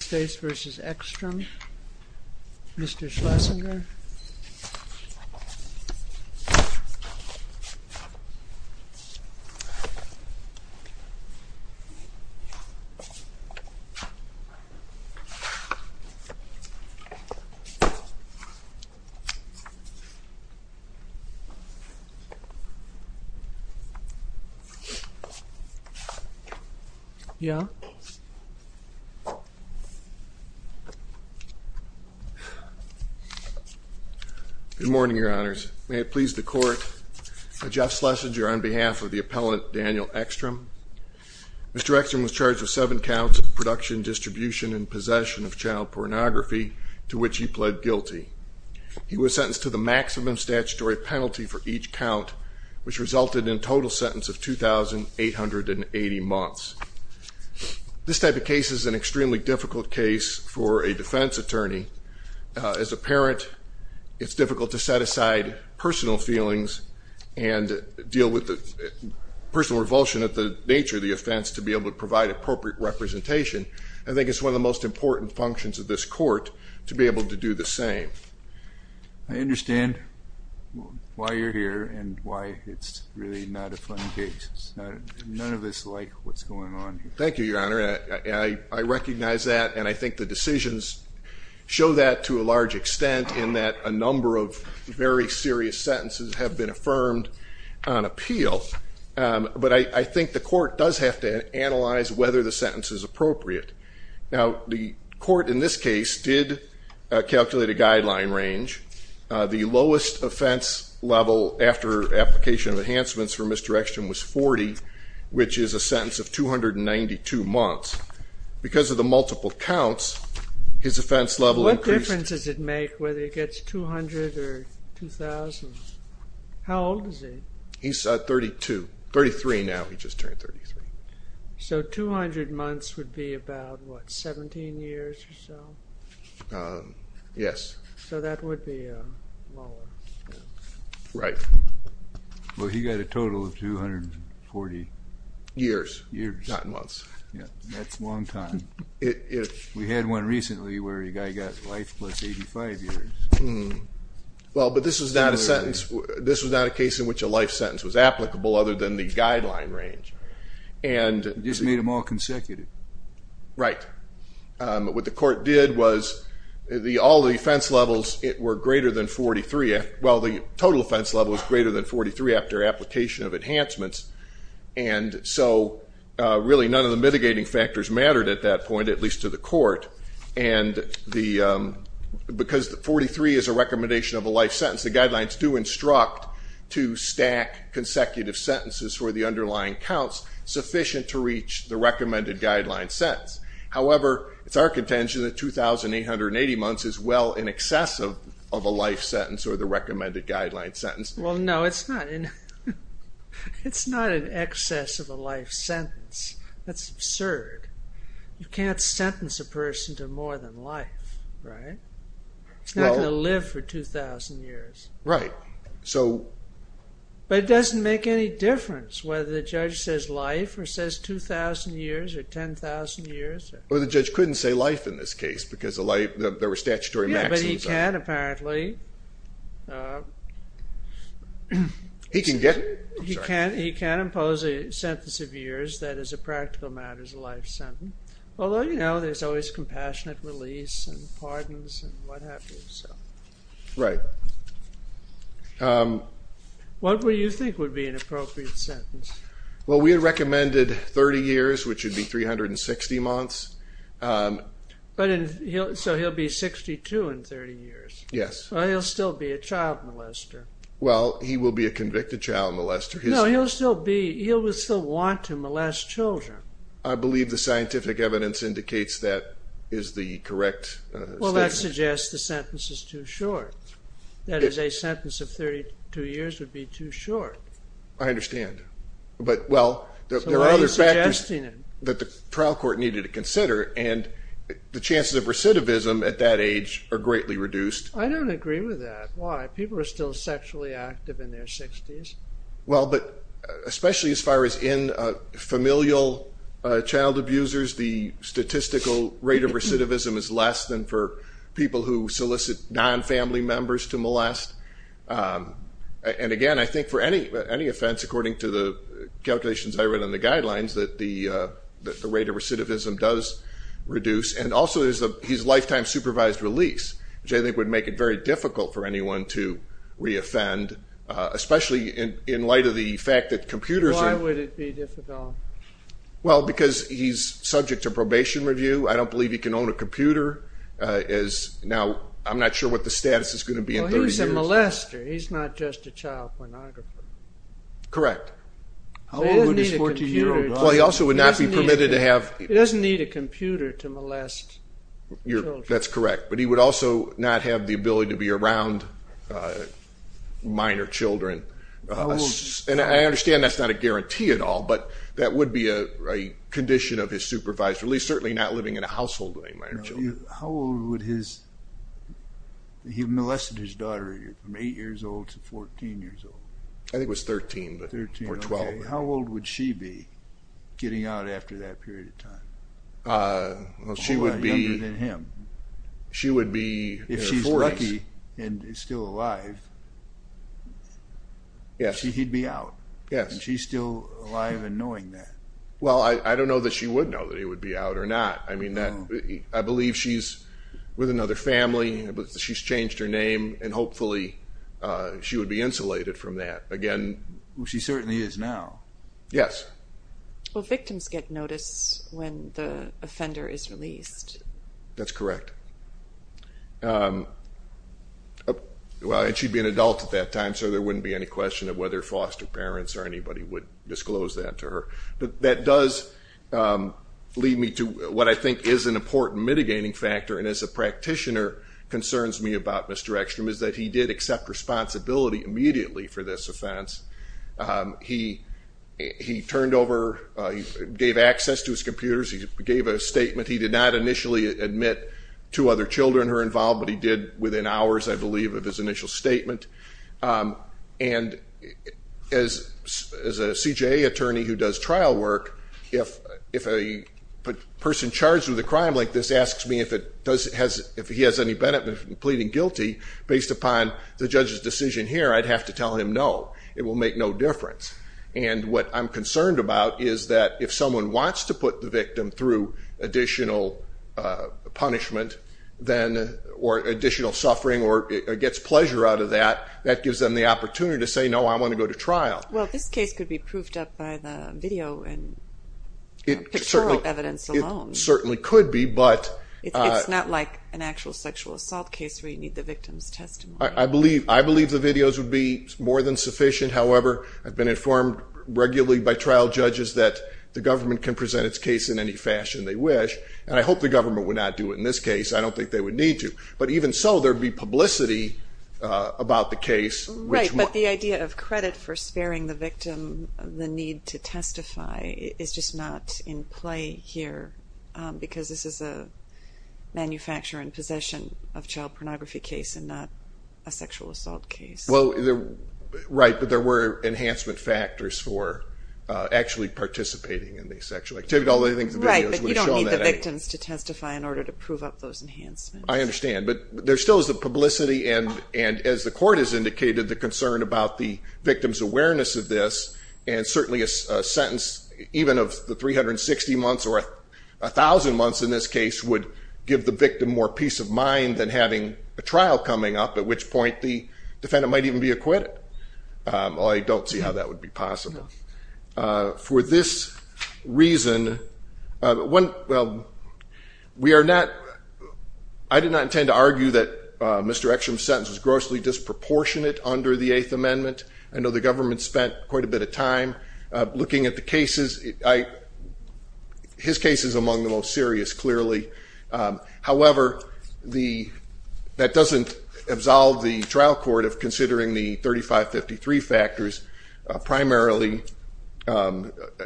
Mr. Schlesinger Mr. Schlesinger Good morning, your honors. May it please the court, I'm Jeff Schlesinger on behalf of the appellant Daniel Eckstrom. Mr. Eckstrom was charged with seven counts of production, distribution, and possession of child pornography, to which he pled guilty. He was sentenced to the maximum statutory penalty for each count, which resulted in a total sentence of 2,880 months. This type of case is an extremely difficult case for a defense attorney. As a parent, it's difficult to set aside personal feelings and deal with the personal revulsion at the nature of the offense to be able to provide appropriate representation. I think it's one of the most important functions of this court to be able to do the same. I understand why you're here and why it's really not a fun case. None of us like what's going on. Thank you, your honor. I recognize that, and I think the decisions show that to a large extent in that a number of very serious sentences have been affirmed on appeal. But I think the court does have to analyze whether the sentence is appropriate. Now, the court in this case did calculate a guideline range. The lowest offense level after application of enhancements for Mr. Eckstrom was 40, which is a sentence of 292 months. Because of the multiple counts, his offense level increased. What difference does it make whether he gets 200 or 2,000? How old is he? He's 32. 33 now. He just turned 33. So 200 months would be about, what, 17 years or so? Yes. So that would be lower. Right. Well, he got a total of 240 years. Not months. That's a long time. We had one recently where a guy got life plus 85 years. Well, but this was not a sentence. This was not a case in which a life sentence was applicable other than the guideline range. It just made them all consecutive. Right. What the court did was all the offense levels were greater than 43. Well, the total offense level was greater than 43 after application of enhancements. And so really none of the mitigating factors mattered at that point, at least to the court. Because 43 is a recommendation of a life sentence, the guidelines do instruct to stack consecutive sentences for the underlying counts sufficient to reach the recommended guideline sentence. However, it's our contention that 2,880 months is well in excess of a life sentence or the recommended guideline sentence. Well, no, it's not in excess of a life sentence. That's absurd. You can't sentence a person to more than life, right? It's not going to live for 2,000 years. Right. But it doesn't make any difference whether the judge says life or says 2,000 years or 10,000 years. Well, the judge couldn't say life in this case because there were statutory maxims. Yeah, but he can apparently. He can get it? He can impose a sentence of years that is a practical matters of life sentence, although, you know, there's always compassionate release and pardons and what have you. Right. What would you think would be an appropriate sentence? Well, we had recommended 30 years, which would be 360 months. So he'll be 62 in 30 years? Yes. Well, he'll still be a child molester. Well, he will be a convicted child molester. No, he'll still want to molest children. I believe the scientific evidence indicates that is the correct statement. Well, that suggests the sentence is too short. That is, a sentence of 32 years would be too short. I understand. But, well, there are other factors that the trial court needed to consider, and the chances of recidivism at that age are greatly reduced. I don't agree with that. Why? People are still sexually active in their 60s. Well, but especially as far as in familial child abusers, the statistical rate of recidivism is less than for people who solicit non-family members to molest. And, again, I think for any offense, according to the calculations I read in the guidelines, that the rate of recidivism does reduce. And also there's his lifetime supervised release, which I think would make it very difficult for anyone to reoffend, especially in light of the fact that computers are- Why would it be difficult? Well, because he's subject to probation review. I don't believe he can own a computer. Now, I'm not sure what the status is going to be in 30 years. Well, he was a molester. He's not just a child pornography. Correct. How old would his 14-year-old be? Well, he also would not be permitted to have- He doesn't need a computer to molest children. That's correct. But he would also not have the ability to be around minor children. And I understand that's not a guarantee at all, but that would be a condition of his supervised release, certainly not living in a household with any minor children. How old would his-he molested his daughter from 8 years old to 14 years old? I think it was 13 or 12. Okay. How old would she be getting out after that period of time? She would be- A whole lot younger than him. She would be in her 40s. If she's lucky and is still alive, he'd be out. Yes. And she's still alive and knowing that. Well, I don't know that she would know that he would be out or not. I mean, I believe she's with another family. She's changed her name, and hopefully she would be insulated from that. She certainly is now. Yes. Well, victims get notice when the offender is released. That's correct. Well, and she'd be an adult at that time, so there wouldn't be any question of whether foster parents or anybody would disclose that to her. But that does lead me to what I think is an important mitigating factor, and as a practitioner concerns me about Mr. Ekstrom, is that he did accept responsibility immediately for this offense. He turned over, gave access to his computers, he gave a statement. He did not initially admit two other children who were involved, but he did within hours, I believe, of his initial statement. And as a CJA attorney who does trial work, if a person charged with a crime like this asks me if he has any benefit in pleading guilty based upon the judge's decision here, I'd have to tell him no. It will make no difference. And what I'm concerned about is that if someone wants to put the victim through additional punishment or additional suffering or gets pleasure out of that, that gives them the opportunity to say, no, I want to go to trial. Well, this case could be proofed up by the video and pictorial evidence alone. It certainly could be. It's not like an actual sexual assault case where you need the victim's testimony. I believe the videos would be more than sufficient. However, I've been informed regularly by trial judges that the government can present its case in any fashion they wish, and I hope the government would not do it in this case. I don't think they would need to. But even so, there would be publicity about the case. Right, but the idea of credit for sparing the victim the need to testify is just not in play here because this is a manufacture and possession of child pornography case and not a sexual assault case. Well, right, but there were enhancement factors for actually participating in the sexual activity, although I think the videos would have shown that anyway. Right, but you don't need the victims to testify in order to prove up those enhancements. I understand, but there still is the publicity, and as the court has indicated, the concern about the victim's awareness of this, and certainly a sentence even of the 360 months or 1,000 months in this case would give the victim more peace of mind than having a trial coming up, at which point the defendant might even be acquitted. I don't see how that would be possible. For this reason, I did not intend to argue that Mr. Ekstrom's sentence was grossly disproportionate under the Eighth Amendment. I know the government spent quite a bit of time looking at the cases. His case is among the most serious, clearly. However, that doesn't absolve the trial court of considering the 3553 factors, primarily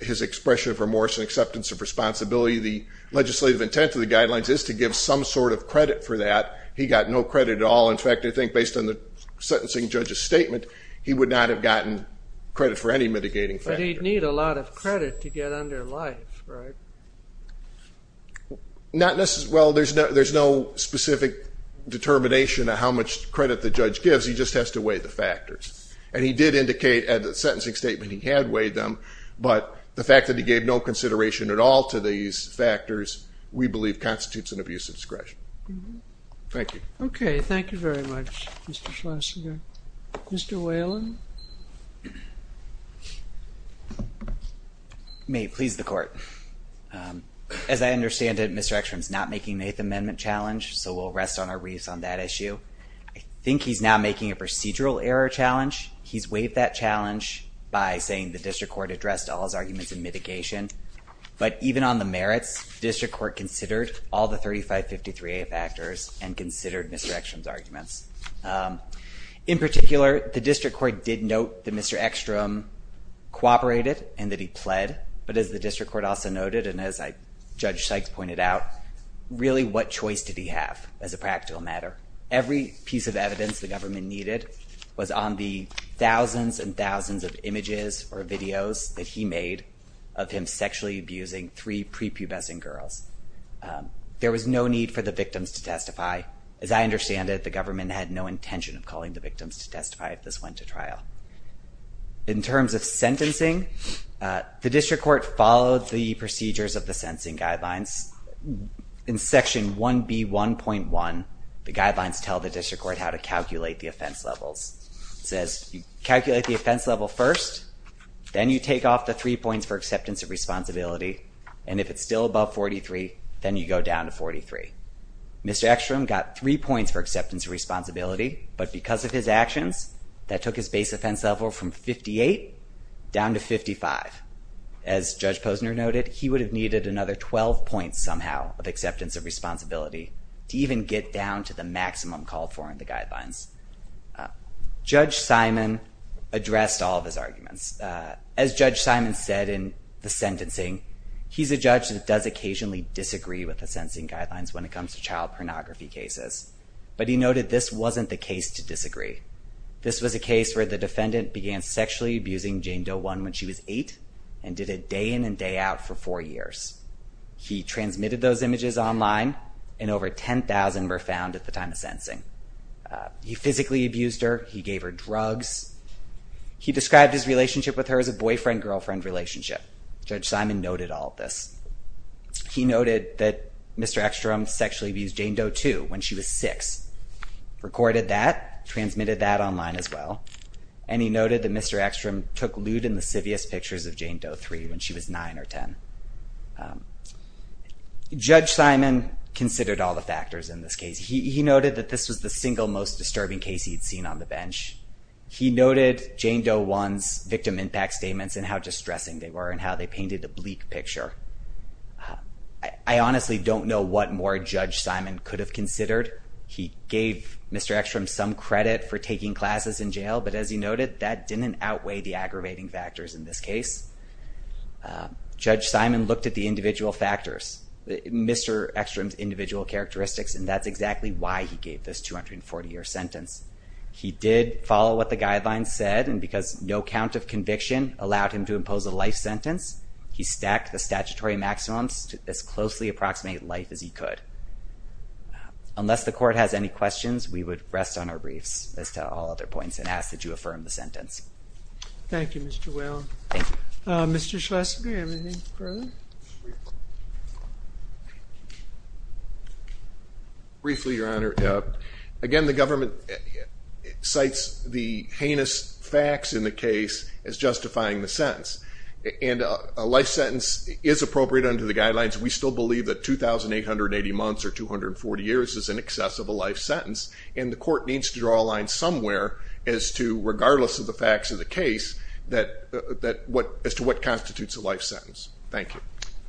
his expression of remorse and acceptance of responsibility. The legislative intent of the guidelines is to give some sort of credit for that. He got no credit at all. He would not have gotten credit for any mitigating factor. But he'd need a lot of credit to get under life, right? Well, there's no specific determination of how much credit the judge gives. He just has to weigh the factors. And he did indicate at the sentencing statement he had weighed them, but the fact that he gave no consideration at all to these factors, we believe constitutes an abuse of discretion. Thank you. Okay, thank you very much, Mr. Schlesinger. Mr. Whalen? May it please the court. As I understand it, Mr. Eckstrom's not making an Eighth Amendment challenge, so we'll rest on our wreaths on that issue. I think he's now making a procedural error challenge. He's weighed that challenge by saying the district court addressed all his arguments in mitigation. But even on the merits, district court considered all the 3553 factors and considered Mr. Eckstrom's arguments. In particular, the district court did note that Mr. Eckstrom cooperated and that he pled. But as the district court also noted, and as Judge Sykes pointed out, really what choice did he have as a practical matter? Every piece of evidence the government needed was on the thousands and thousands of images or videos that he made of him sexually abusing three prepubescent girls. There was no need for the victims to testify. As I understand it, the government had no intention of calling the victims to testify if this went to trial. In terms of sentencing, the district court followed the procedures of the sentencing guidelines. In Section 1B1.1, the guidelines tell the district court how to calculate the offense levels. It says, calculate the offense level first, then you take off the three points for acceptance of responsibility. And if it's still above 43, then you go down to 43. Mr. Eckstrom got three points for acceptance of responsibility, but because of his actions, that took his base offense level from 58 down to 55. As Judge Posner noted, he would have needed another 12 points somehow of acceptance of responsibility to even get down to the maximum Judge Simon addressed all of his arguments. As Judge Simon said in the sentencing, he's a judge that does occasionally disagree with the sentencing guidelines when it comes to child pornography cases. But he noted this wasn't the case to disagree. This was a case where the defendant began sexually abusing Jane Doe One when she was eight and did it day in and day out for four years. He transmitted those images online, and over 10,000 were found at the time of sentencing. He physically abused her. He gave her drugs. He described his relationship with her as a boyfriend-girlfriend relationship. Judge Simon noted all of this. He noted that Mr. Eckstrom sexually abused Jane Doe Two when she was six, recorded that, transmitted that online as well, and he noted that Mr. Eckstrom took lewd and lascivious pictures of Jane Doe Three when she was nine or 10. Judge Simon considered all the factors in this case. He noted that this was the single most disturbing case he'd seen on the bench. He noted Jane Doe One's victim impact statements and how distressing they were and how they painted a bleak picture. I honestly don't know what more Judge Simon could have considered. He gave Mr. Eckstrom some credit for taking classes in jail, but as he noted, that didn't outweigh the aggravating factors in this case. Judge Simon looked at the individual factors, Mr. Eckstrom's individual characteristics, and that's exactly why he gave this 240-year sentence. He did follow what the guidelines said, and because no count of conviction allowed him to impose a life sentence, he stacked the statutory maximums to as closely approximate life as he could. Unless the court has any questions, we would rest on our briefs, as to all other points, and ask that you affirm the sentence. Thank you, Mr. Whalen. Thank you. Mr. Schlesinger, anything further? Briefly, Your Honor. Again, the government cites the heinous facts in the case as justifying the sentence, and a life sentence is appropriate under the guidelines. We still believe that 2,880 months or 240 years is in excess of a life sentence, and the court needs to draw a line somewhere as to, regardless of the facts of the case, as to what constitutes a life sentence. Thank you.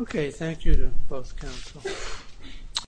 Okay, thank you to both counsel.